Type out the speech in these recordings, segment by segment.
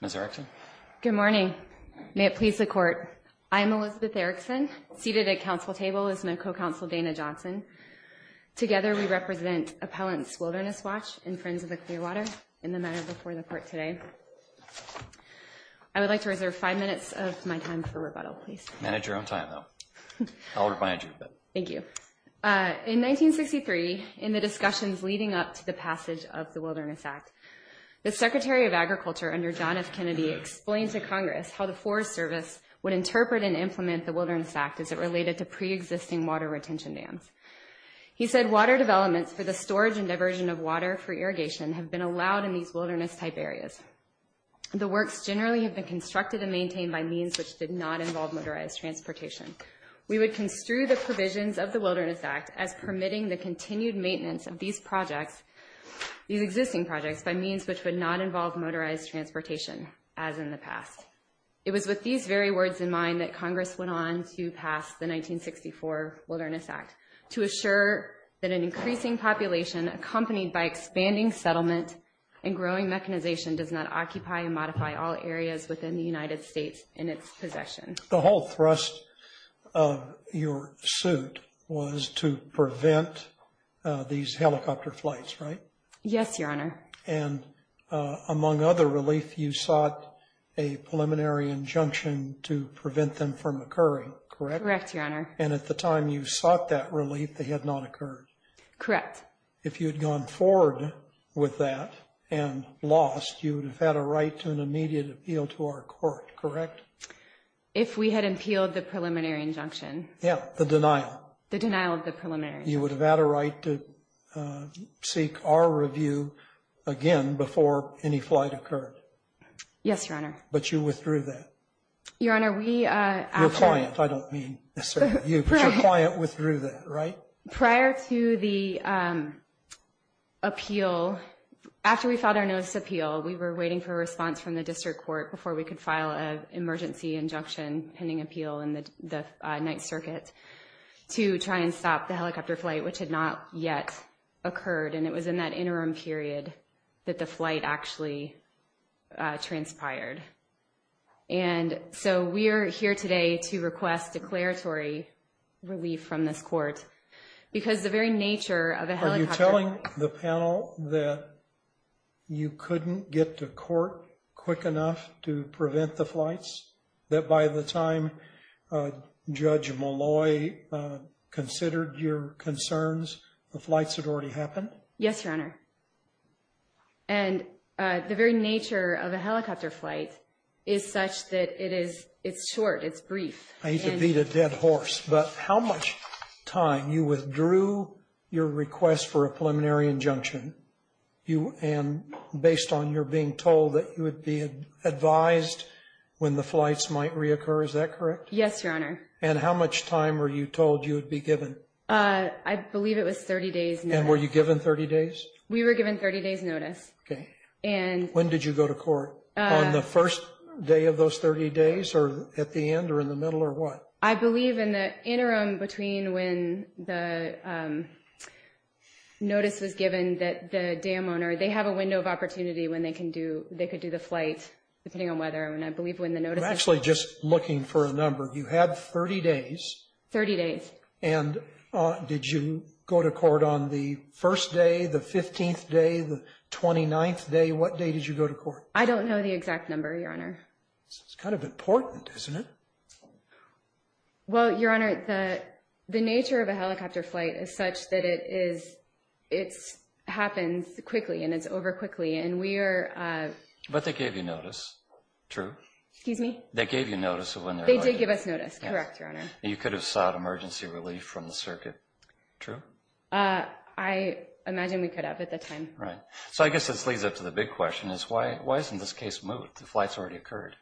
Ms. Erickson? Good morning. May it please the Court, I am Elizabeth Erickson. Seated at council table is my co-counsel Dana Johnson. Together we represent appellants Wilderness Watch and Friends of the Clearwater in the matter before the Court today. I would like to reserve five minutes of my time for rebuttal, please. Manage your own time, though. I'll remind you of it. Thank you. In 1963, in the discussions leading up to the passage of the Wilderness Act, the Secretary of Agriculture under John F. Kennedy explained to Congress how the Forest Service would interpret and implement the Wilderness Act as it related to pre-existing water retention dams. He said, Water developments for the storage and diversion of water for irrigation have been allowed in these wilderness-type areas. The works generally have been constructed and maintained by means which did not involve motorized transportation. We would construe the provisions of the Wilderness Act as permitting the continued maintenance of these projects, these existing projects, by means which would not involve motorized transportation, as in the past. It was with these very words in mind that Congress went on to pass the 1964 Wilderness Act to assure that an increasing population accompanied by expanding settlement and growing mechanization does not occupy and modify all areas within the United States in its possession. The whole thrust of your suit was to prevent these helicopter flights, right? Yes, Your Honor. And among other relief, you sought a preliminary injunction to prevent them from occurring, correct? Correct, Your Honor. And at the time you sought that relief, they had not occurred? Correct. If you had gone forward with that and lost, you would have had a right to an immediate appeal to our court, correct? If we had appealed the preliminary injunction. Yeah, the denial. The denial of the preliminary injunction. You would have had a right to seek our review again before any flight occurred. Yes, Your Honor. But you withdrew that. Your Honor, we... Your client, I don't mean necessarily you, but your client withdrew that, right? Prior to the appeal, after we filed our newest appeal, we were waiting for a response from the district court before we could file an emergency injunction pending appeal in the Ninth Circuit to try and stop the helicopter flight, which had not yet occurred. And it was in that interim period that the flight actually transpired. And so we are here today to request declaratory relief from this court because the very nature of a helicopter... Did you get to court quick enough to prevent the flights that by the time Judge Molloy considered your concerns, the flights had already happened? Yes, Your Honor. And the very nature of a helicopter flight is such that it is short, it's brief. I hate to beat a dead horse, but how much time you withdrew your request for a preliminary injunction and based on your being told that you would be advised when the flights might reoccur, is that correct? Yes, Your Honor. And how much time were you told you would be given? I believe it was 30 days notice. And were you given 30 days? We were given 30 days notice. Okay. And... When did you go to court? On the first day of those 30 days or at the end or in the middle or what? I believe in the interim between when the notice was given that the dam owner... They have a window of opportunity when they could do the flight depending on whether... I'm actually just looking for a number. You had 30 days. 30 days. And did you go to court on the first day, the 15th day, the 29th day? What day did you go to court? I don't know the exact number, Your Honor. It's kind of important, isn't it? Well, Your Honor, the nature of a helicopter flight is such that it happens quickly and it's over quickly. And we are... But they gave you notice. True. Excuse me? They gave you notice of when they're... They did give us notice. Correct, Your Honor. And you could have sought emergency relief from the circuit. True? I imagine we could have at that time. Right. So I guess this leads up to the big question is why isn't this case moved? The flight's already occurred.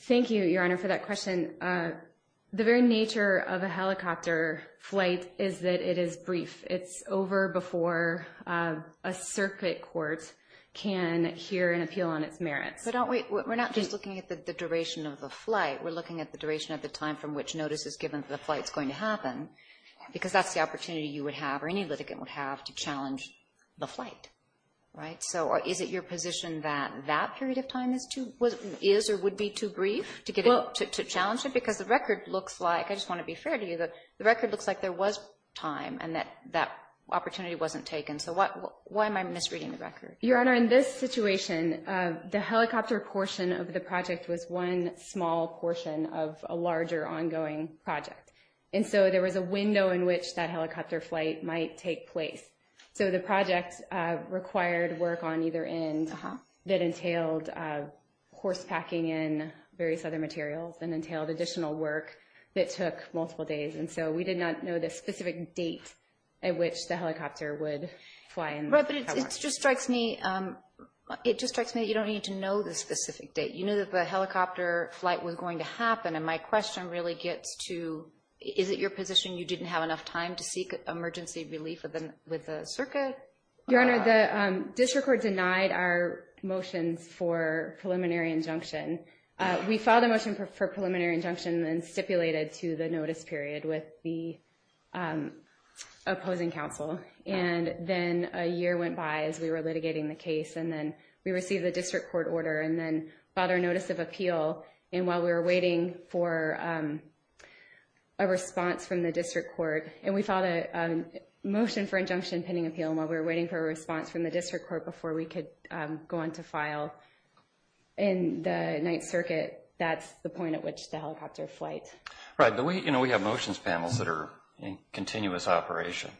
Thank you, Your Honor, for that question. The very nature of a helicopter flight is that it is brief. It's over before a circuit court can hear an appeal on its merits. But don't we... We're not just looking at the duration of the flight. We're looking at the duration of the time from which notice is given that the flight's going to happen because that's the opportunity you would have or any litigant would have to challenge the flight. Right? So is it your position that that period of time is or would be too brief to challenge it? Because the record looks like... I just want to be fair to you. The record looks like there was time and that that opportunity wasn't taken. So why am I misreading the record? Your Honor, in this situation, the helicopter portion of the project was one small portion of a larger ongoing project. And so there was a window in which that helicopter flight might take place. So the project required work on either end that entailed horse packing in various other materials and entailed additional work that took multiple days. And so we did not know the specific date at which the helicopter would fly. Right, but it just strikes me that you don't need to know the specific date. You knew that the helicopter flight was going to happen. And my question really gets to, is it your position you didn't have enough time to seek emergency relief with the circuit? Your Honor, the district court denied our motions for preliminary injunction. We filed a motion for preliminary injunction and stipulated to the notice period with the opposing counsel. And then a year went by as we were litigating the case. And then we received the district court order and then filed our notice of appeal. And while we were waiting for a response from the district court, and we filed a motion for injunction pending appeal, and while we were waiting for a response from the district court before we could go on to file in the Ninth Circuit, that's the point at which the helicopter flight. Right, but we have motions panels that are in continuous operation.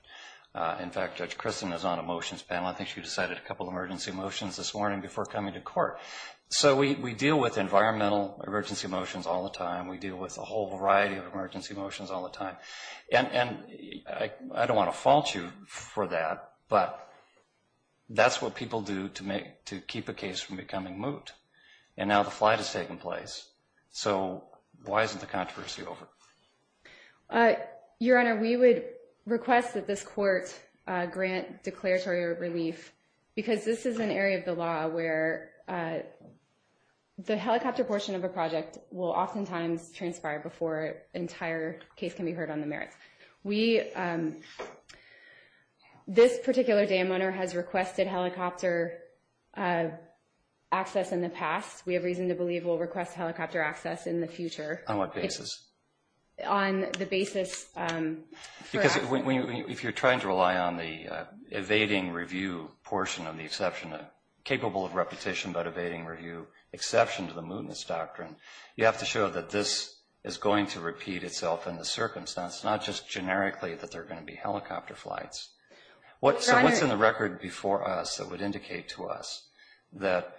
In fact, Judge Kristen is on a motions panel. I think she decided a couple of emergency motions this morning before coming to court. So we deal with environmental emergency motions all the time. We deal with a whole variety of emergency motions all the time. And I don't want to fault you for that, but that's what people do to keep a case from becoming moot. And now the flight has taken place. So why isn't the controversy over? Your Honor, we would request that this court grant declaratory relief because this is an area of the law where the helicopter portion of a project will oftentimes transpire before an entire case can be heard on the merits. This particular dam owner has requested helicopter access in the past. We have reason to believe we'll request helicopter access in the future. On the basis for access. Because if you're trying to rely on the evading review portion of the exception, capable of repetition but evading review exception to the mootness doctrine, you have to show that this is going to repeat itself in the circumstance, not just generically that there are going to be helicopter flights. So what's in the record before us that would indicate to us that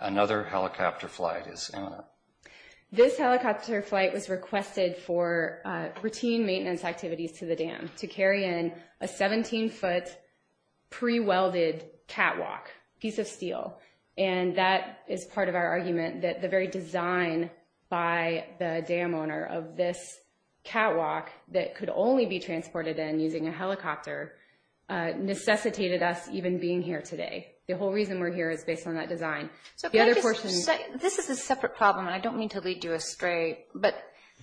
another helicopter flight is imminent? This helicopter flight was requested for routine maintenance activities to the dam to carry in a 17-foot pre-welded catwalk piece of steel. And that is part of our argument that the very design by the dam owner of this catwalk that could only be transported in using a helicopter necessitated us even being here today. The whole reason we're here is based on that design. This is a separate problem, and I don't mean to lead you astray, but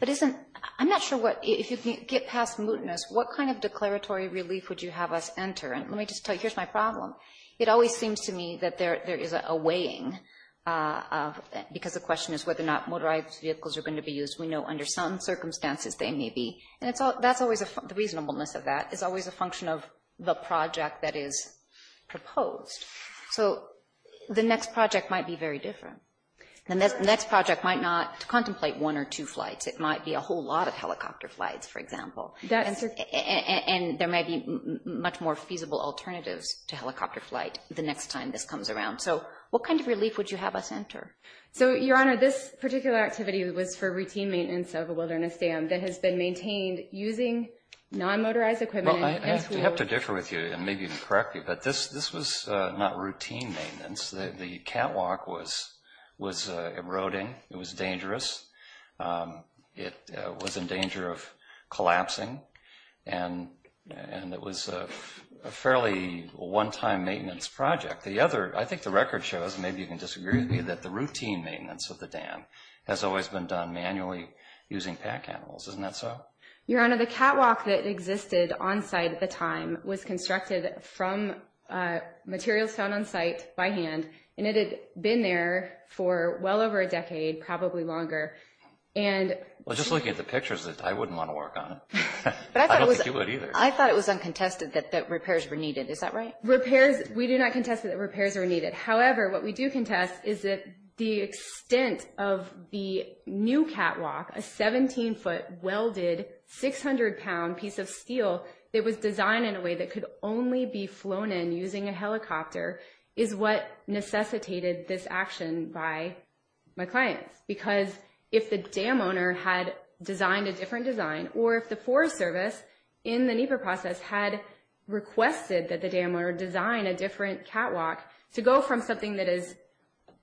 I'm not sure if you can get past mootness, what kind of declaratory relief would you have us enter? Let me just tell you, here's my problem. It always seems to me that there is a weighing, because the question is whether or not motorized vehicles are going to be used. We know under some circumstances they may be. And the reasonableness of that is always a function of the project that is proposed. So the next project might be very different. The next project might not contemplate one or two flights. It might be a whole lot of helicopter flights, for example. And there may be much more feasible alternatives to helicopter flight the next time this comes around. So what kind of relief would you have us enter? So, Your Honor, this particular activity was for routine maintenance of a wilderness dam that has been maintained using non-motorized equipment. Well, I have to differ with you and maybe correct you, but this was not routine maintenance. The catwalk was eroding. It was dangerous. It was in danger of collapsing. And it was a fairly one-time maintenance project. I think the record shows, maybe you can disagree with me, that the routine maintenance of the dam has always been done manually using pack animals. Isn't that so? Your Honor, the catwalk that existed on site at the time was constructed from materials found on site by hand. And it had been there for well over a decade, probably longer. Well, just looking at the pictures, I wouldn't want to work on it. I don't think you would either. I thought it was uncontested that repairs were needed. Is that right? Repairs, we do not contest that repairs are needed. However, what we do contest is that the extent of the new catwalk, a 17-foot welded 600-pound piece of steel that was designed in a way that could only be flown in using a helicopter, is what necessitated this action by my clients. Because if the dam owner had designed a different design, or if the Forest Service in the NEPA process had requested that the dam owner design a different catwalk to go from something that is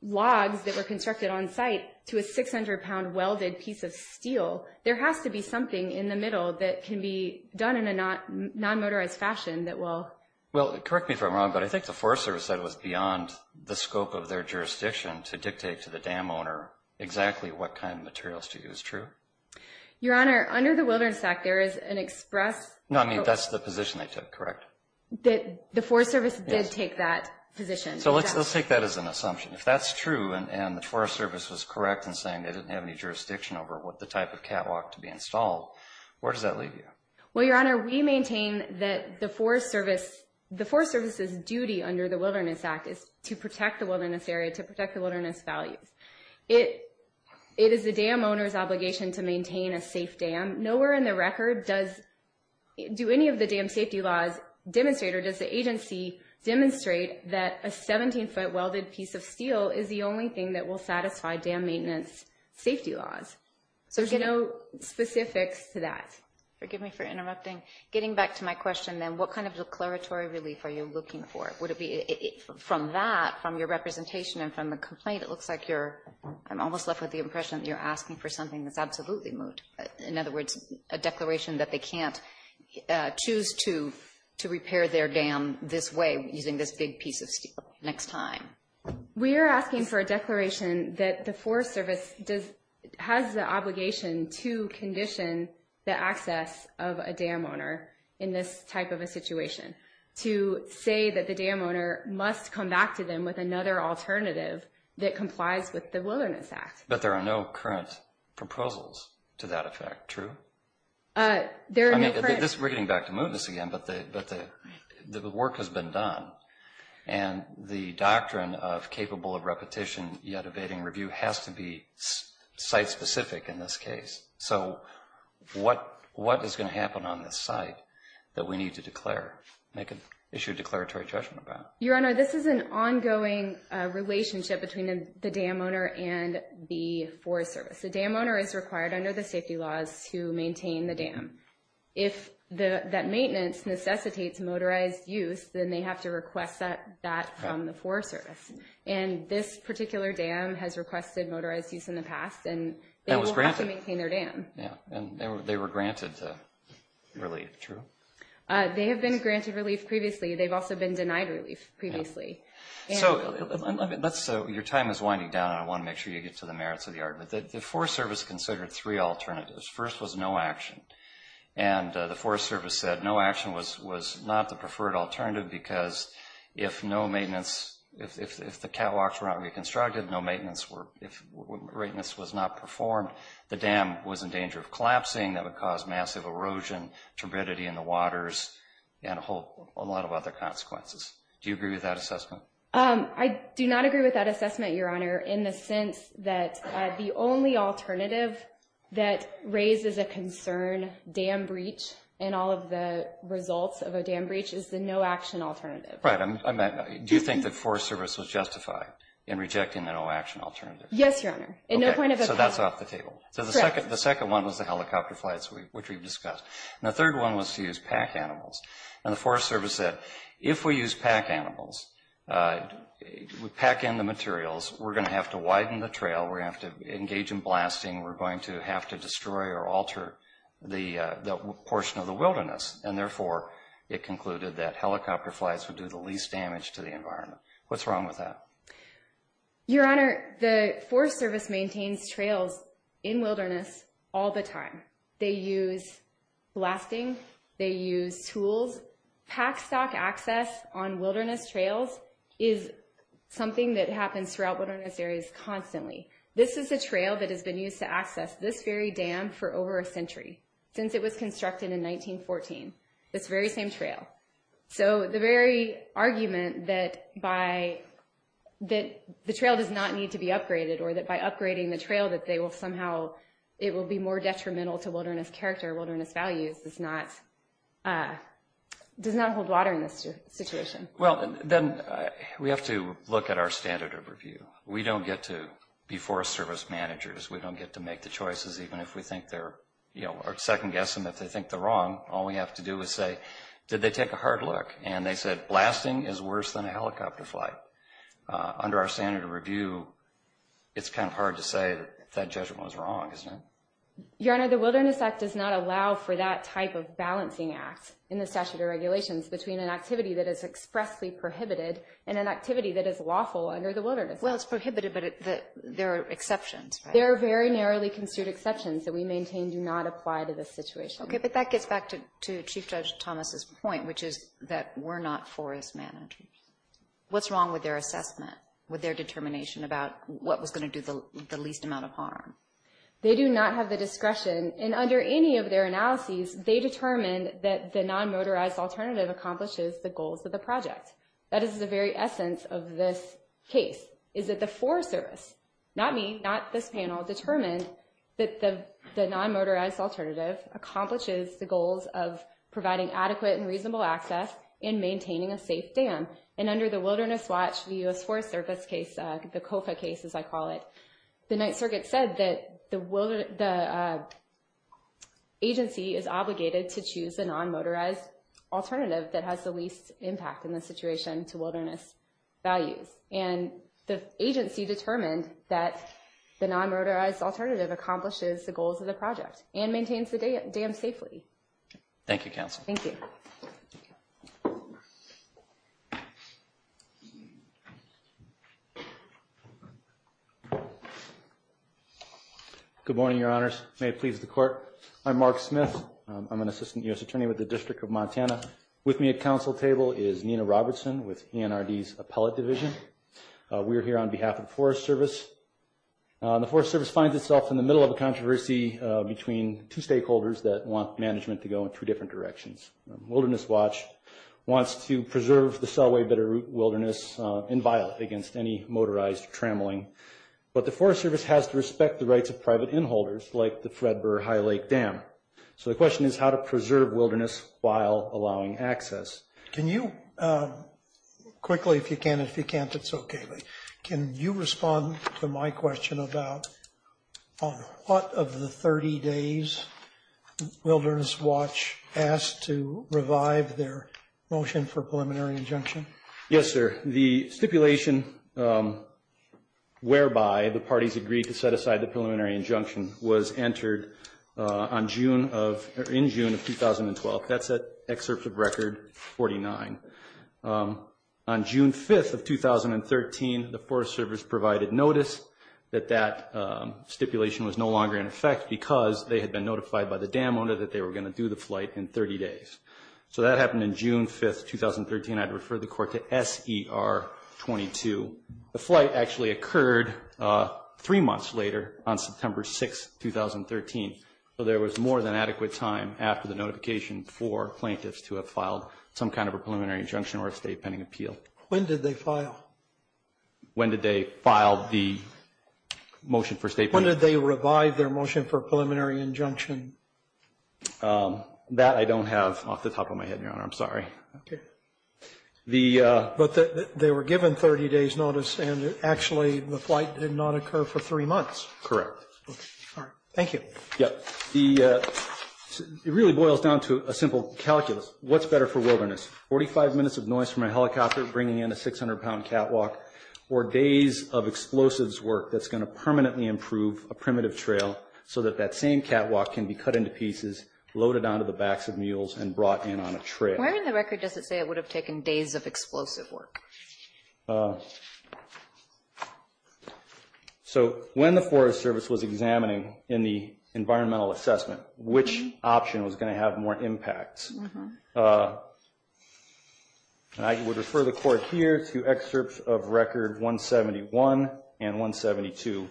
logs that were constructed on site to a 600-pound welded piece of steel, there has to be something in the middle that can be done in a non-motorized fashion that will... Well, correct me if I'm wrong, but I think the Forest Service said it was beyond the scope of their jurisdiction to dictate to the dam owner exactly what kind of materials to use, true? Your Honor, under the wilderness sack, there is an express... No, I mean, that's the position they took, correct? The Forest Service did take that position. So let's take that as an assumption. If that's true and the Forest Service was correct in saying they didn't have any jurisdiction over what the type of catwalk to be installed, where does that leave you? Well, Your Honor, we maintain that the Forest Service's duty under the Wilderness Act is to protect the wilderness area, to protect the wilderness values. It is the dam owner's obligation to maintain a safe dam. Nowhere in the record does... Do any of the dam safety laws demonstrate or does the agency demonstrate that a 17-foot welded piece of steel is the only thing that will satisfy dam maintenance safety laws? So there's no specifics to that. Forgive me for interrupting. Getting back to my question then, what kind of declaratory relief are you looking for? Would it be... From that, from your representation and from the complaint, it looks like you're... I'm almost left with the impression that you're asking for something that's absolutely moved. In other words, a declaration that they can't choose to repair their dam this way using this big piece of steel next time. We are asking for a declaration that the Forest Service has the obligation to condition the access of a dam owner in this type of a situation, to say that the dam owner must come back to them with another alternative that complies with the Wilderness Act. But there are no current proposals to that effect, true? There are no current... We're getting back to movements again, but the work has been done. And the doctrine of capable of repetition yet evading review has to be site-specific in this case. So what is going to happen on this site that we need to declare, issue a declaratory judgment about? Your Honor, this is an ongoing relationship between the dam owner and the Forest Service. The dam owner is required under the safety laws to maintain the dam. If that maintenance necessitates motorized use, then they have to request that from the Forest Service. And this particular dam has requested motorized use in the past, and they will have to maintain their dam. And they were granted relief, true? They have been granted relief previously. They've also been denied relief previously. So your time is winding down, and I want to make sure you get to the merits of the argument. The Forest Service considered three alternatives. First was no action. And the Forest Service said no action was not the preferred alternative because if no maintenance, if the catwalks were not reconstructed, no maintenance was not performed, the dam was in danger of collapsing. That would cause massive erosion, turbidity in the waters, and a whole lot of other consequences. Do you agree with that assessment? I do not agree with that assessment, Your Honor, in the sense that the only alternative that raises a concern, dam breach, and all of the results of a dam breach is the no action alternative. Right. Do you think the Forest Service was justified in rejecting the no action alternative? Yes, Your Honor. So that's off the table. Correct. The second one was the helicopter flights, which we've discussed. And the third one was to use pack animals. And the Forest Service said if we use pack animals, pack in the materials, we're going to have to widen the trail, we're going to have to engage in blasting, we're going to have to destroy or alter the portion of the wilderness. And therefore, it concluded that helicopter flights would do the least damage to the environment. What's wrong with that? Your Honor, the Forest Service maintains trails in wilderness all the time. They use blasting. They use tools. Pack stock access on wilderness trails is something that happens throughout wilderness areas constantly. This is a trail that has been used to access this very dam for over a century, since it was constructed in 1914, this very same trail. So the very argument that the trail does not need to be upgraded or that by upgrading the trail that they will somehow, it will be more detrimental to wilderness character, wilderness values, does not hold water in this situation. Well, then we have to look at our standard of review. We don't get to be Forest Service managers. We don't get to make the choices, even if we think they're, you know, or second guess them if they think they're wrong. All we have to do is say, did they take a hard look? And they said blasting is worse than a helicopter flight. Under our standard of review, it's kind of hard to say that that judgment was wrong, isn't it? Your Honor, the Wilderness Act does not allow for that type of balancing act in the statute of regulations between an activity that is expressly prohibited and an activity that is lawful under the Wilderness Act. Well, it's prohibited, but there are exceptions, right? There are very narrowly construed exceptions that we maintain do not apply to this situation. Okay, but that gets back to Chief Judge Thomas's point, which is that we're not forest managers. What's wrong with their assessment, with their determination about what was going to do the least amount of harm? They do not have the discretion, and under any of their analyses, they determined that the non-motorized alternative accomplishes the goals of the project. That is the very essence of this case, is that the Forest Service, not me, not this panel, determined that the non-motorized alternative accomplishes the goals of providing adequate and reasonable access and maintaining a safe dam. And under the Wilderness Watch, the U.S. Forest Service case, the COFA case as I call it, the Ninth Circuit said that the agency is obligated to choose a non-motorized alternative that has the least impact in the situation to wilderness values. And the agency determined that the non-motorized alternative accomplishes the goals of the project and maintains the dam safely. Thank you, Counsel. Thank you. Good morning, Your Honors. May it please the Court. I'm Mark Smith. I'm an Assistant U.S. Attorney with the District of Montana. With me at Counsel table is Nina Robertson with ENRD's Appellate Division. We are here on behalf of the Forest Service. The Forest Service finds itself in the middle of a controversy between two stakeholders that want management to go in two different directions. Wilderness Watch wants to preserve the Selway Bitterroot Wilderness in violence against any motorized trammeling, but the Forest Service has to respect the rights of private in-holders like the Fred Burr High Lake Dam. So the question is how to preserve wilderness while allowing access. Can you quickly, if you can and if you can't, that's okay, but can you respond to my question about on what of the 30 days Wilderness Watch asked to revive their motion for preliminary injunction? Yes, sir. The stipulation whereby the parties agreed to set aside the preliminary injunction was entered in June of 2012. That's at Excerpt of Record 49. On June 5th of 2013, the Forest Service provided notice that that stipulation was no longer in effect because they had been notified by the dam owner that they were going to do the flight in 30 days. So that happened in June 5th, 2013. I'd refer the court to SER 22. The flight actually occurred three months later on September 6th, 2013. So there was more than adequate time after the notification for plaintiffs to have filed some kind of a preliminary injunction or a state pending appeal. When did they file? When did they file the motion for state pending? When did they revive their motion for preliminary injunction? That I don't have off the top of my head, Your Honor. I'm sorry. Okay. But they were given 30 days notice and actually the flight did not occur for three months. Correct. Okay. All right. Thank you. Yeah. It really boils down to a simple calculus. What's better for wilderness? Forty-five minutes of noise from a helicopter bringing in a 600-pound catwalk or days of explosives work that's going to permanently improve a primitive trail so that that same catwalk can be cut into pieces, loaded onto the backs of mules, and brought in on a trail. Where in the record does it say it would have taken days of explosive work? So when the Forest Service was examining in the environmental assessment, which option was going to have more impact? And I would refer the court here to excerpts of record 171 and 172,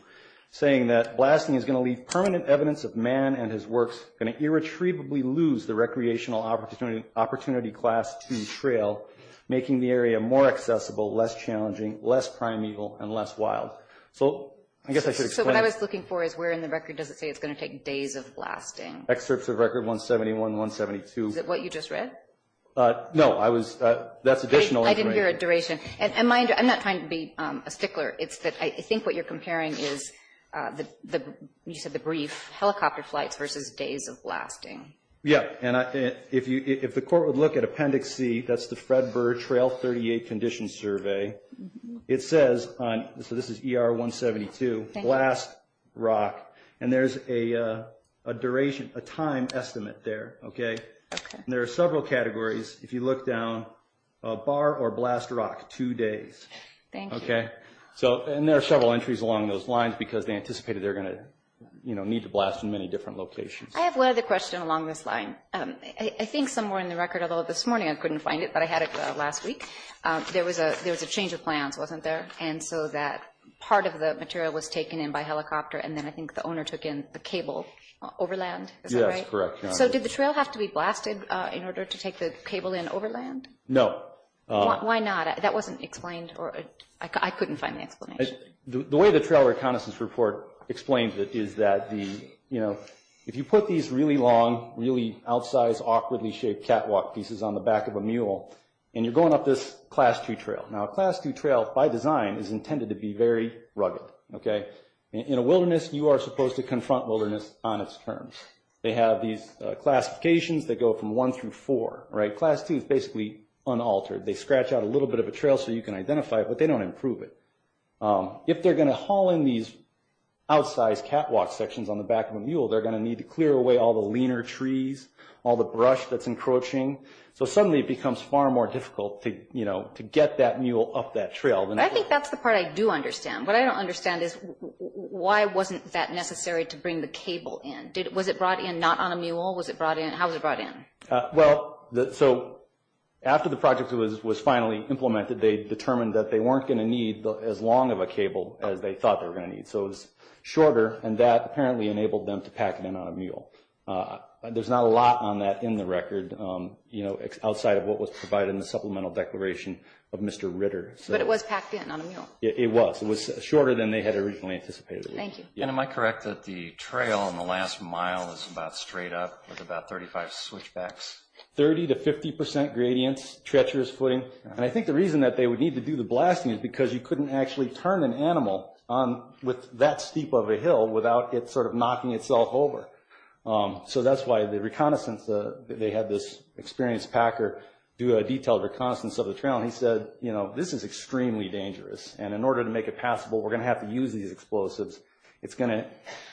saying that blasting is going to leave permanent evidence of man and his works going to irretrievably lose the recreational opportunity class 2 trail, making the area more accessible, less challenging, less primeval, and less wild. So I guess I should explain. So what I was looking for is where in the record does it say it's going to take days of blasting? Excerpts of record 171, 172. Is it what you just read? No, that's additional information. I didn't hear a duration. And I'm not trying to be a stickler. It's that I think what you're comparing is, you said the brief, helicopter flights versus days of blasting. Yeah, and if the court would look at Appendix C, that's the Fred Burr Trail 38 Condition Survey, it says, so this is ER 172, blast rock. And there's a duration, a time estimate there. Okay? And there are several categories. If you look down, bar or blast rock, two days. Thank you. Okay? And there are several entries along those lines because they anticipated they're going to need to blast in many different locations. I have one other question along this line. I think somewhere in the record, although this morning I couldn't find it, but I had it last week, there was a change of plans, wasn't there? And so that part of the material was taken in by helicopter, and then I think the owner took in the cable overland. Is that right? Yes, correct. So did the trail have to be blasted in order to take the cable in overland? No. Why not? That wasn't explained, or I couldn't find the explanation. The way the Trail Reconnaissance Report explains it is that the, you know, if you put these really long, really outsized, awkwardly shaped catwalk pieces on the back of a mule, and you're going up this Class II trail. Now, a Class II trail, by design, is intended to be very rugged. Okay? In a wilderness, you are supposed to confront wilderness on its terms. They have these classifications that go from one through four, right? Class II is basically unaltered. They scratch out a little bit of a trail so you can identify it, but they don't improve it. If they're going to haul in these outsized catwalk sections on the back of a mule, they're going to need to clear away all the leaner trees, all the brush that's encroaching. So suddenly it becomes far more difficult to, you know, to get that mule up that trail. I think that's the part I do understand. What I don't understand is why wasn't that necessary to bring the cable in? Was it brought in not on a mule? How was it brought in? Well, so after the project was finally implemented, they determined that they weren't going to need as long of a cable as they thought they were going to need. So it was shorter, and that apparently enabled them to pack it in on a mule. There's not a lot on that in the record, you know, outside of what was provided in the supplemental declaration of Mr. Ritter. But it was packed in on a mule? It was. It was shorter than they had originally anticipated. Thank you. And am I correct that the trail on the last mile is about straight up with about 35 switchbacks? Thirty to 50 percent gradients, treacherous footing. And I think the reason that they would need to do the blasting is because you couldn't actually turn an animal with that steep of a hill without it sort of knocking itself over. So that's why the reconnaissance, they had this experienced packer do a detailed reconnaissance of the trail, and he said, you know, this is extremely dangerous, and in order to make it passable, we're going to have to use these explosives. It's going to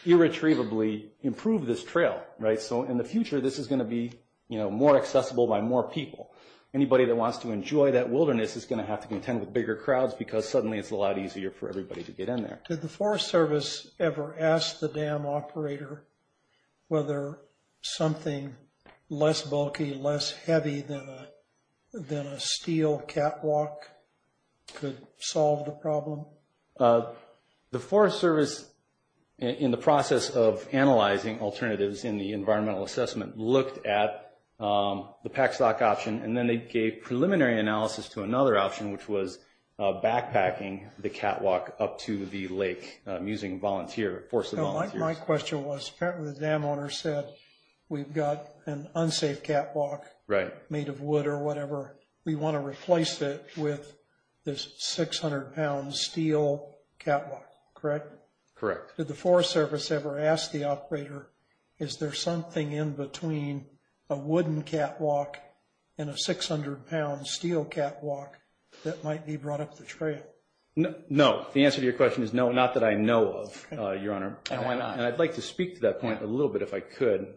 irretrievably improve this trail, right? So in the future, this is going to be, you know, more accessible by more people. Anybody that wants to enjoy that wilderness is going to have to contend with bigger crowds because suddenly it's a lot easier for everybody to get in there. Did the Forest Service ever ask the dam operator whether something less bulky, less heavy than a steel catwalk could solve the problem? The Forest Service, in the process of analyzing alternatives in the environmental assessment, looked at the pack stock option, and then they gave preliminary analysis to another option, which was backpacking the catwalk up to the lake using force of volunteers. My question was, apparently the dam owner said, we've got an unsafe catwalk made of wood or whatever. We want to replace it with this 600-pound steel catwalk, correct? Correct. Did the Forest Service ever ask the operator, is there something in between a wooden catwalk and a 600-pound steel catwalk that might be brought up the trail? No. The answer to your question is no, not that I know of, Your Honor. And why not? And I'd like to speak to that point a little bit if I could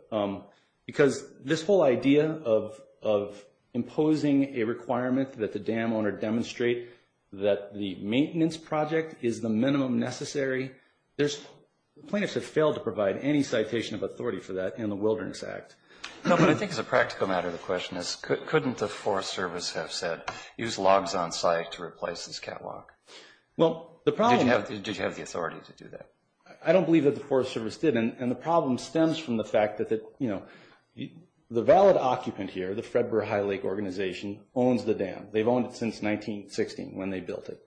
because this whole idea of imposing a requirement that the dam owner demonstrate that the maintenance project is the minimum necessary, plaintiffs have failed to provide any citation of authority for that in the Wilderness Act. No, but I think as a practical matter, the question is, couldn't the Forest Service have said, use logs on site to replace this catwalk? Did you have the authority to do that? I don't believe that the Forest Service did, and the problem stems from the fact that the valid occupant here, the Fred Burr High Lake Organization, owns the dam. They've owned it since 1916 when they built it.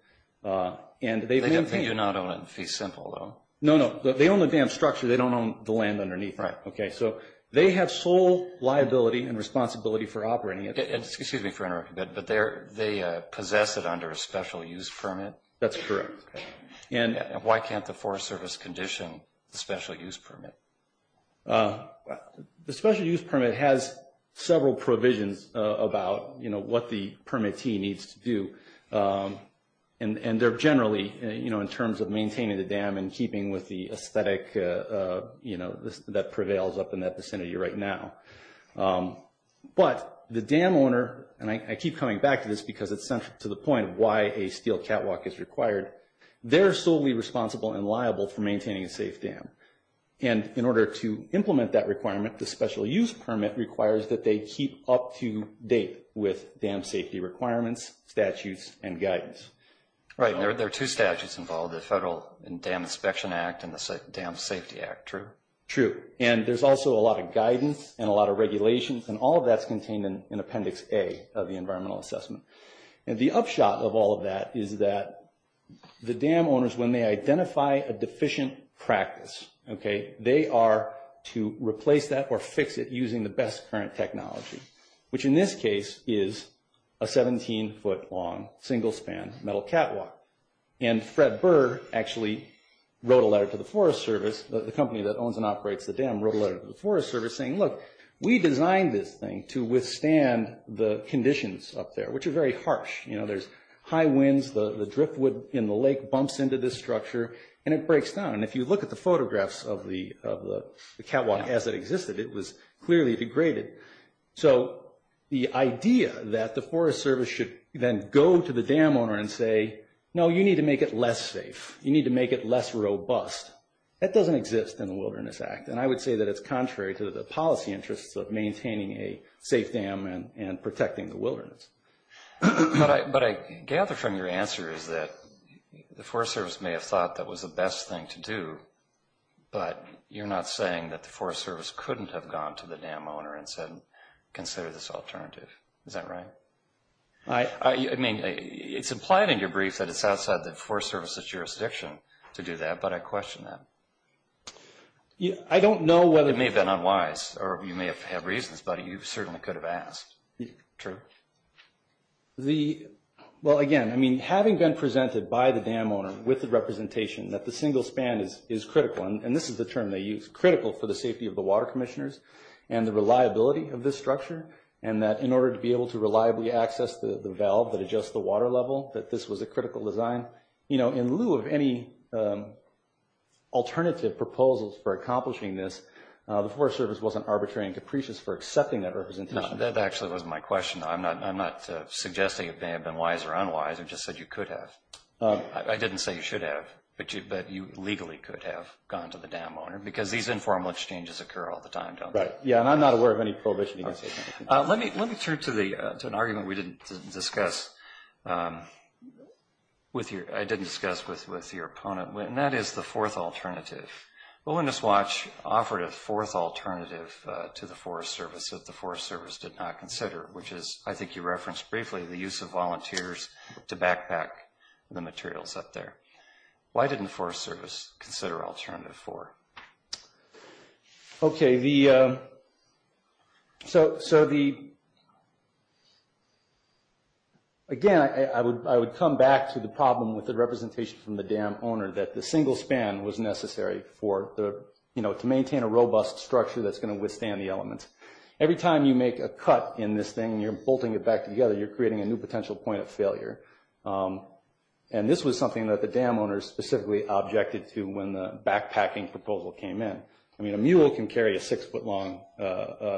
They do not own it in fee simple, though. No, no. They own the dam structure. They don't own the land underneath it. Right. Okay. So they have sole liability and responsibility for operating it. Excuse me for interrupting, but they possess it under a special use permit? That's correct. And why can't the Forest Service condition the special use permit? The special use permit has several provisions about what the permittee needs to do, and they're generally, you know, in terms of maintaining the dam and keeping with the aesthetic, you know, that prevails up in that vicinity right now. But the dam owner, and I keep coming back to this because it's central to the point of why a steel catwalk is required, they're solely responsible and liable for maintaining a safe dam. And in order to implement that requirement, the special use permit requires that they keep up to date with dam safety requirements, statutes, and guidance. Right. And there are two statutes involved, the Federal Dam Inspection Act and the Dam Safety Act, true? True. And there's also a lot of guidance and a lot of regulations, and all of that's contained in Appendix A of the Environmental Assessment. And the upshot of all of that is that the dam owners, when they identify a deficient practice, okay, they are to replace that or fix it using the best current technology, which in this case is a 17-foot long single-span metal catwalk. And Fred Burr actually wrote a letter to the Forest Service, the company that owns and operates the dam, wrote a letter to the Forest Service saying, look, we designed this thing to withstand the conditions up there, which are very harsh. You know, there's high winds, the driftwood in the lake bumps into this structure, and it breaks down. And if you look at the photographs of the catwalk as it existed, it was clearly degraded. So the idea that the Forest Service should then go to the dam owner and say, no, you need to make it less safe, you need to make it less robust, that doesn't exist in the Wilderness Act. And I would say that it's contrary to the policy interests of maintaining a safe dam and protecting the wilderness. But I gather from your answer is that the Forest Service may have thought that was the best thing to do, but you're not saying that the Forest Service couldn't have gone to the dam owner and said, consider this alternative. Is that right? I mean, it's implied in your brief that it's outside the Forest Service's jurisdiction to do that, but I question that. I don't know whether... It may have been unwise, or you may have had reasons, but you certainly could have asked. True. Well, again, I mean, having been presented by the dam owner with the representation that the single span is critical, and this is the term they use, critical for the safety of the water commissioners and the reliability of this structure, and that in order to be able to reliably access the valve that adjusts the water level, that this was a critical design. You know, in lieu of any alternative proposals for accomplishing this, the Forest Service wasn't arbitrary and capricious for accepting that representation. That actually was my question. I'm not suggesting it may have been wise or unwise. I just said you could have. I didn't say you should have, but you legally could have gone to the dam owner, because these informal exchanges occur all the time, don't they? Right. Yeah, and I'm not aware of any prohibition against safe dams. Let me turn to an argument I did discuss with your opponent, and that is the fourth alternative. Willingness Watch offered a fourth alternative to the Forest Service that the Forest Service did not consider, which is, I think you referenced briefly, the use of volunteers to backpack the materials up there. Why didn't the Forest Service consider alternative four? Okay, so again, I would come back to the problem with the representation from the dam owner, that the single span was necessary to maintain a robust structure that's going to withstand the elements. Every time you make a cut in this thing, you're bolting it back together, you're creating a new potential point of failure. And this was something that the dam owner specifically objected to when the backpacking proposal came in. I mean, a mule can carry a six-foot-long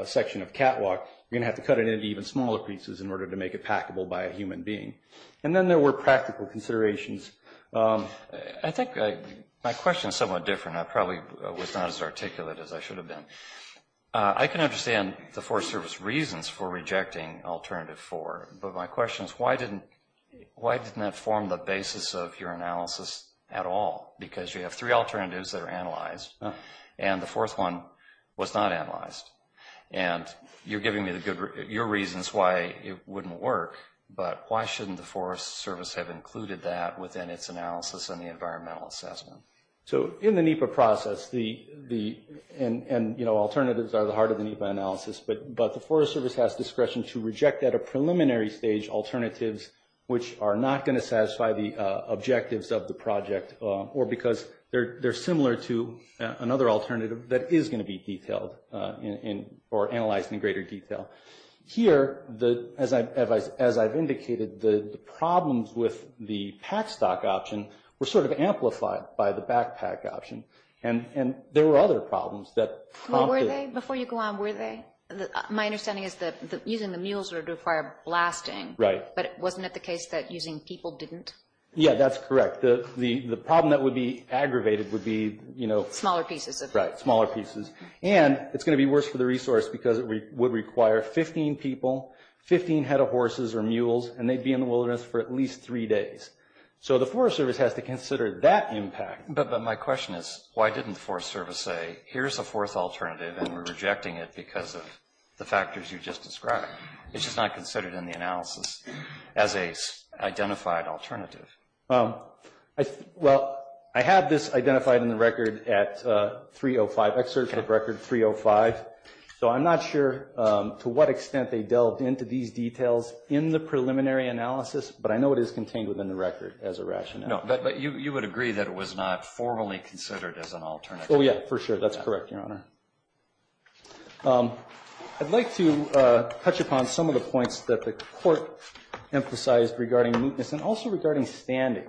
section of catwalk. You're going to have to cut it into even smaller pieces in order to make it packable by a human being. And then there were practical considerations. I think my question is somewhat different. I probably was not as articulate as I should have been. I can understand the Forest Service reasons for rejecting alternative four, but my question is, why didn't that form the basis of your analysis at all? Because you have three alternatives that are analyzed, and the fourth one was not analyzed. And you're giving me your reasons why it wouldn't work, but why shouldn't the Forest Service have included that within its analysis and the environmental assessment? So in the NEPA process, and alternatives are the heart of the NEPA analysis, but the Forest Service has discretion to reject at a preliminary stage alternatives which are not going to satisfy the objectives of the project, or because they're similar to another alternative that is going to be detailed or analyzed in greater detail. Here, as I've indicated, the problems with the pack stock option were sort of amplified by the backpack option. And there were other problems that prompted... Before you go on, were they? My understanding is that using the mules would require blasting. Right. But wasn't it the case that using people didn't? Yeah, that's correct. The problem that would be aggravated would be, you know... Smaller pieces. Right, smaller pieces. And it's going to be worse for the resource because it would require 15 people, 15 head of horses or mules, and they'd be in the wilderness for at least three days. So the Forest Service has to consider that impact. But my question is, why didn't the Forest Service say, here's a fourth alternative and we're rejecting it because of the factors you just described? It's just not considered in the analysis as a identified alternative. Well, I had this identified in the record at 305, excerpt of record 305. So I'm not sure to what extent they delved into these details in the preliminary analysis, but I know it is contained within the record as a rationale. No, but you would agree that it was not formally considered as an alternative. Oh, yeah, for sure. That's correct, Your Honor. I'd like to touch upon some of the points that the court emphasized regarding mootness and also regarding standing.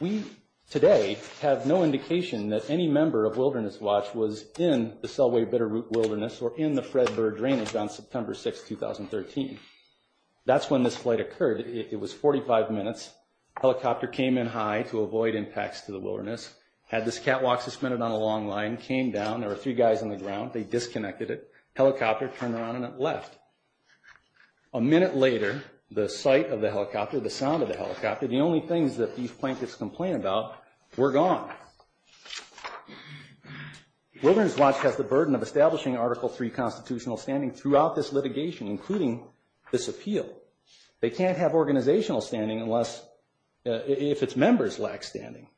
We today have no indication that any member of Wilderness Watch was in the Selway Bitterroot Wilderness or in the Fred Bird Drainage on September 6, 2013. That's when this flight occurred. It was 45 minutes. Helicopter came in high to avoid impacts to the wilderness. Had this catwalk suspended on a long line, came down. There were three guys on the ground. They disconnected it. Helicopter turned around and it left. A minute later, the sight of the helicopter, the sound of the helicopter, the only things that these plaintiffs complained about were gone. Wilderness Watch has the burden of establishing Article III constitutional standing throughout this litigation, including this appeal. They can't have organizational standing if its members lack standing.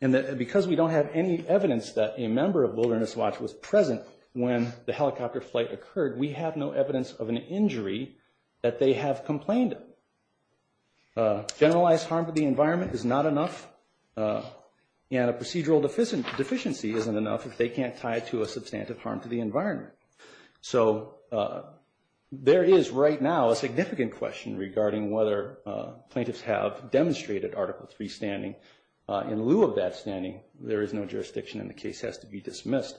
And because we don't have any evidence that a member of Wilderness Watch was present when the helicopter flight occurred, we have no evidence of an injury that they have complained of. Generalized harm to the environment is not enough, and a procedural deficiency isn't enough if they can't tie it to a substantive harm to the environment. So there is right now a significant question regarding whether plaintiffs have demonstrated Article III standing. In lieu of that standing, there is no jurisdiction and the case has to be dismissed.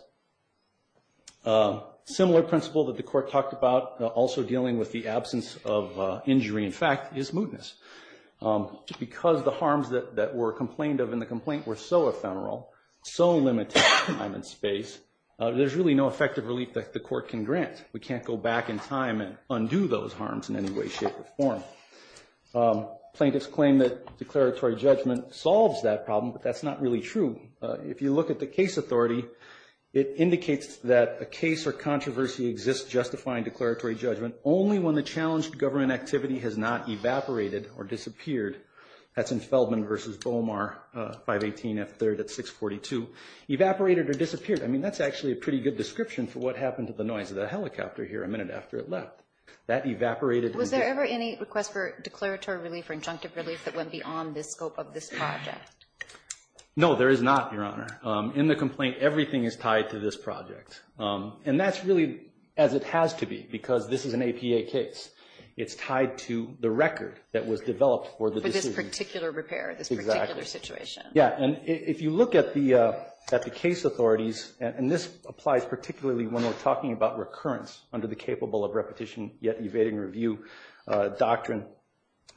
A similar principle that the Court talked about, also dealing with the absence of injury in fact, is mootness. Because the harms that were complained of in the complaint were so ephemeral, so limited in time and space, there's really no effective relief that the Court can grant. We can't go back in time and undo those harms in any way, shape, or form. Plaintiffs claim that declaratory judgment solves that problem, but that's not really true. If you look at the case authority, it indicates that a case or controversy exists justifying declaratory judgment only when the challenged government activity has not evaporated or disappeared. That's in Feldman v. Bomar, 518 F3rd at 642. Evaporated or disappeared, I mean, that's actually a pretty good description for what happened to the noise of the helicopter here a minute after it left. That evaporated. Was there ever any request for declaratory relief or injunctive relief that went beyond the scope of this project? No, there is not, Your Honor. In the complaint, everything is tied to this project. And that's really as it has to be, because this is an APA case. It's tied to the record that was developed for the decision. For this particular repair, this particular situation. Exactly. Yeah, and if you look at the case authorities, and this applies particularly when we're talking about recurrence under the capable of repetition yet evading review doctrine.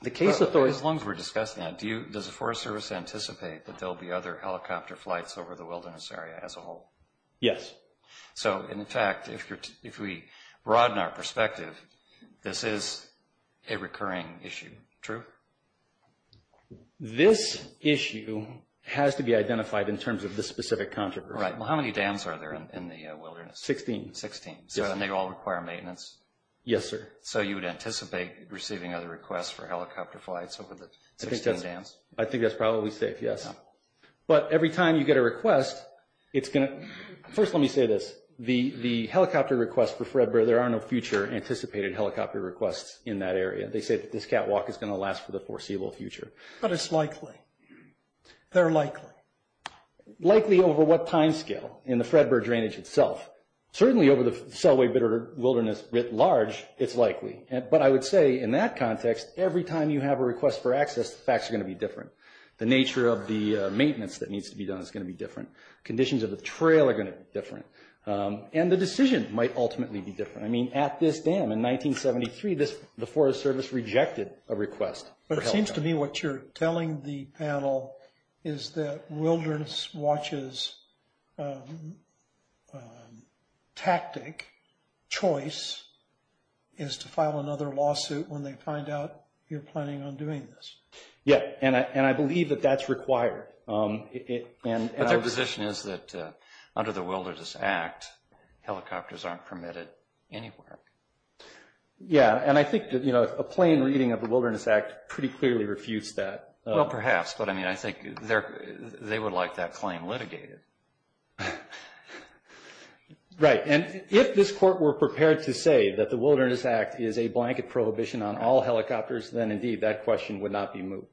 As long as we're discussing that, does the Forest Service anticipate that there will be other helicopter flights over the wilderness area as a whole? Yes. So, in fact, if we broaden our perspective, this is a recurring issue. True? This issue has to be identified in terms of the specific controversy. Right. Well, how many dams are there in the wilderness? Sixteen. Sixteen. And they all require maintenance? Yes, sir. So you would anticipate receiving other requests for helicopter flights over the 16 dams? I think that's probably safe, yes. But every time you get a request, it's going to – first let me say this. The helicopter requests for Fredbear, there are no future anticipated helicopter requests in that area. They say that this catwalk is going to last for the foreseeable future. But it's likely. They're likely. Likely over what timescale in the Fredbear drainage itself? Certainly over the Selway wilderness writ large, it's likely. But I would say in that context, every time you have a request for access, the facts are going to be different. The nature of the maintenance that needs to be done is going to be different. Conditions of the trail are going to be different. And the decision might ultimately be different. I mean, at this dam in 1973, the Forest Service rejected a request for helicopter. But it seems to me what you're telling the panel is that Wilderness Watch's tactic, choice, is to file another lawsuit when they find out you're planning on doing this. Yeah, and I believe that that's required. But their position is that under the Wilderness Act, helicopters aren't permitted anywhere. Yeah, and I think a plain reading of the Wilderness Act pretty clearly refutes that. Well, perhaps. But, I mean, I think they would like that claim litigated. Right, and if this Court were prepared to say that the Wilderness Act is a blanket prohibition on all helicopters, then, indeed, that question would not be moved.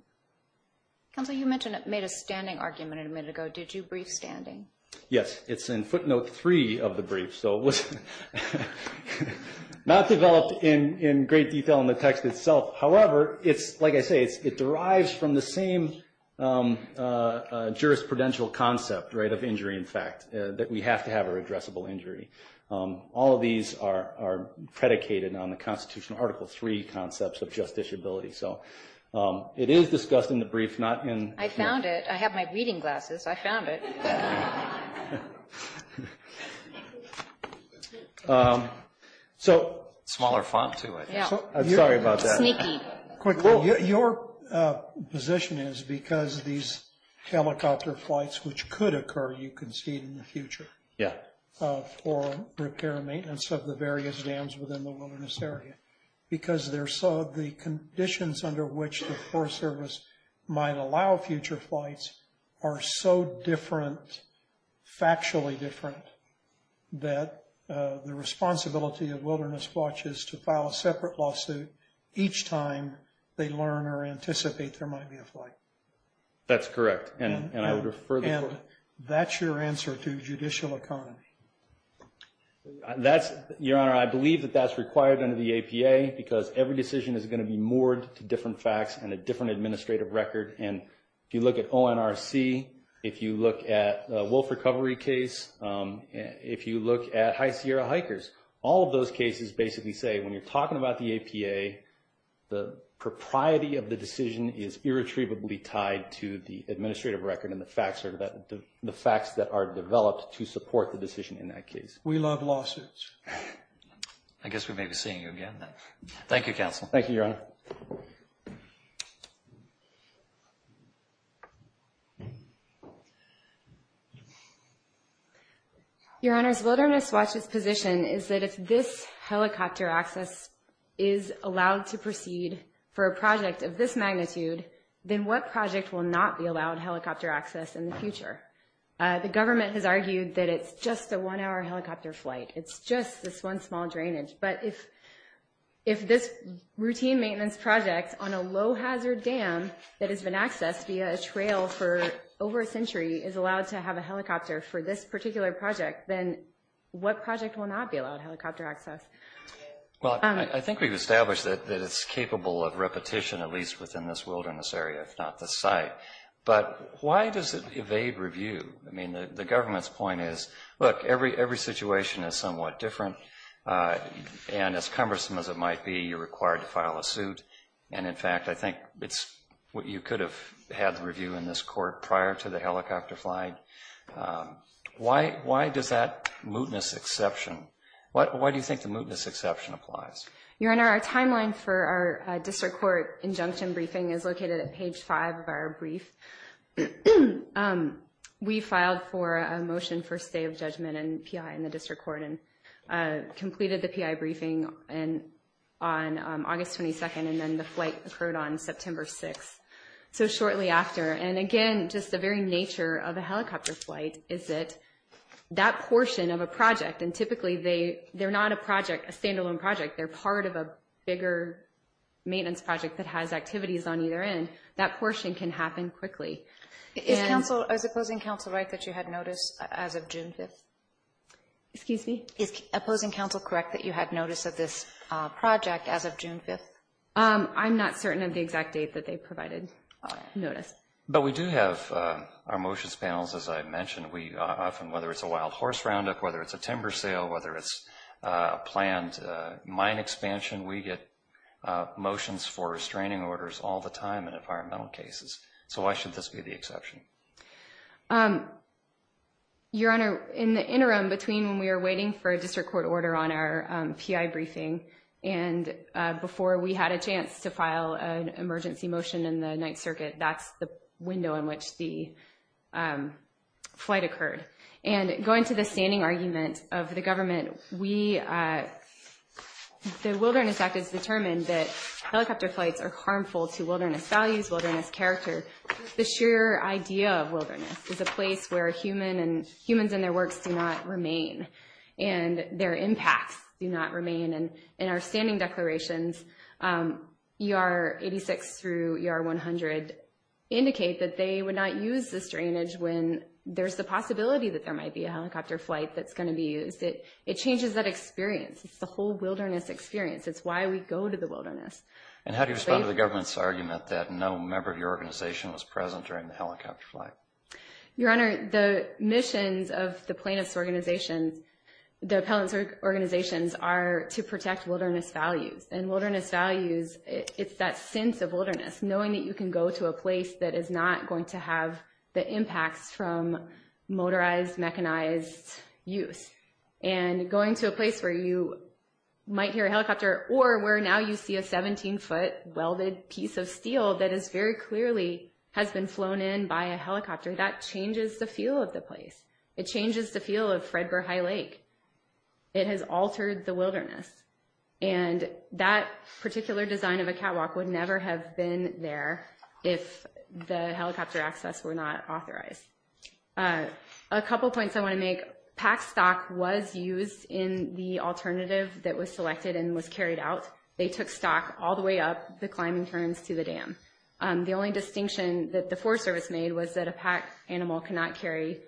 Counsel, you mentioned it made a standing argument a minute ago. Did you brief standing? Yes, it's in footnote 3 of the brief. So it was not developed in great detail in the text itself. However, like I say, it derives from the same jurisprudential concept, right, of injury in fact, that we have to have a redressable injury. All of these are predicated on the Constitutional Article 3 concepts of justiciability. So it is discussed in the brief, not in. I found it. I have my reading glasses. I found it. So. Smaller font, too, I think. Yeah. I'm sorry about that. Sneaky. Your position is because these helicopter flights, which could occur, you can see it in the future. Yeah. For repair and maintenance of the various dams within the wilderness area. Because the conditions under which the Forest Service might allow future flights are so different, factually different, that the responsibility of Wilderness Watch is to file a separate lawsuit each time they learn or anticipate there might be a flight. That's correct. And I would refer the court. And that's your answer to judicial economy. Your Honor, I believe that that's required under the APA because every decision is going to be moored to different facts and a different administrative record. And if you look at ONRC, if you look at the wolf recovery case, if you look at High Sierra hikers, all of those cases basically say when you're talking about the APA, the propriety of the decision is irretrievably tied to the administrative record and the facts that are developed to support the decision in that case. We love lawsuits. I guess we may be seeing you again then. Thank you, Counsel. Thank you, Your Honor. Your Honor, Wilderness Watch's position is that if this helicopter access is allowed to proceed for a project of this magnitude, then what project will not be allowed helicopter access in the future? The government has argued that it's just a one-hour helicopter flight. It's just this one small drainage. But if this routine maintenance project on a low-hazard dam that has been accessed via a trail for over a century is allowed to have a helicopter for this particular project, then what project will not be allowed helicopter access? Well, I think we've established that it's capable of repetition, at least within this wilderness area, if not this site. But why does it evade review? I mean, the government's point is, look, every situation is somewhat different. And as cumbersome as it might be, you're required to file a suit. And, in fact, I think you could have had the review in this court prior to the helicopter flight. Why does that mootness exception? Why do you think the mootness exception applies? Your Honor, our timeline for our district court injunction briefing is located at page 5 of our brief. We filed for a motion for a stay of judgment and PI in the district court and completed the PI briefing on August 22nd, and then the flight occurred on September 6th, so shortly after. And, again, just the very nature of a helicopter flight is that that portion of a project, and typically they're not a project, a standalone project, they're part of a bigger maintenance project that has activities on either end, that portion can happen quickly. Is opposing counsel right that you had notice as of June 5th? Excuse me? Is opposing counsel correct that you had notice of this project as of June 5th? I'm not certain of the exact date that they provided notice. But we do have our motions panels, as I mentioned. We often, whether it's a wild horse roundup, whether it's a timber sale, whether it's a planned mine expansion, we get motions for restraining orders all the time in environmental cases. So why should this be the exception? Your Honor, in the interim between when we were waiting for a district court order on our PI briefing and before we had a chance to file an emergency motion in the Ninth Circuit, that's the window in which the flight occurred. And going to the standing argument of the government, the Wilderness Act has determined that helicopter flights are harmful to wilderness values, wilderness character. The sheer idea of wilderness is a place where humans and their works do not remain and their impacts do not remain. And our standing declarations, ER 86 through ER 100, indicate that they would not use the strainage when there's the possibility that there might be a helicopter flight that's going to be used. It changes that experience. It's the whole wilderness experience. It's why we go to the wilderness. And how do you respond to the government's argument that no member of your organization was present during the helicopter flight? Your Honor, the missions of the plaintiffs' organizations, the appellants' organizations, are to protect wilderness values. And wilderness values, it's that sense of wilderness, knowing that you can go to a place that is not going to have the impacts from motorized, mechanized use. And going to a place where you might hear a helicopter or where now you see a 17-foot welded piece of steel that is very clearly has been flown in by a helicopter, that changes the feel of the place. It changes the feel of Fredbear High Lake. It has altered the wilderness. And that particular design of a catwalk would never have been there if the helicopter access were not authorized. A couple points I want to make. Packed stock was used in the alternative that was selected and was carried out. They took stock all the way up the climbing turns to the dam. The only distinction that the Forest Service made was that a packed animal cannot carry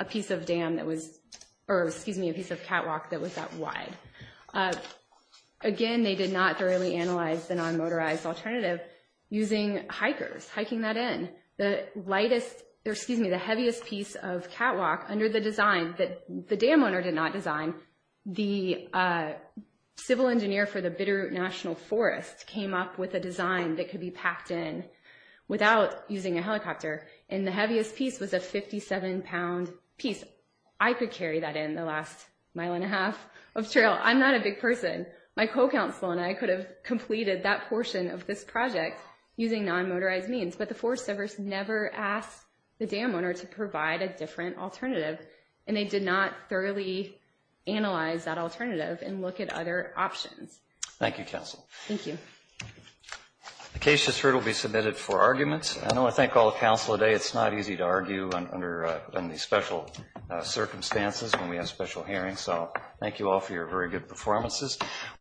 a piece of dam that was – or, excuse me, a piece of catwalk that was that wide. Again, they did not thoroughly analyze the non-motorized alternative using hikers, hiking that in. The lightest – or, excuse me, the heaviest piece of catwalk, under the design that the dam owner did not design, the civil engineer for the Bitterroot National Forest came up with a design that could be packed in without using a helicopter. And the heaviest piece was a 57-pound piece. I could carry that in the last mile and a half of trail. I'm not a big person. My co-counsel and I could have completed that portion of this project using non-motorized means. But the Forest Service never asked the dam owner to provide a different alternative, and they did not thoroughly analyze that alternative and look at other options. Thank you, Counsel. Thank you. The case has heard will be submitted for arguments. I want to thank all the counsel today. It's not easy to argue under these special circumstances when we have special hearings. So thank you all for your very good performances.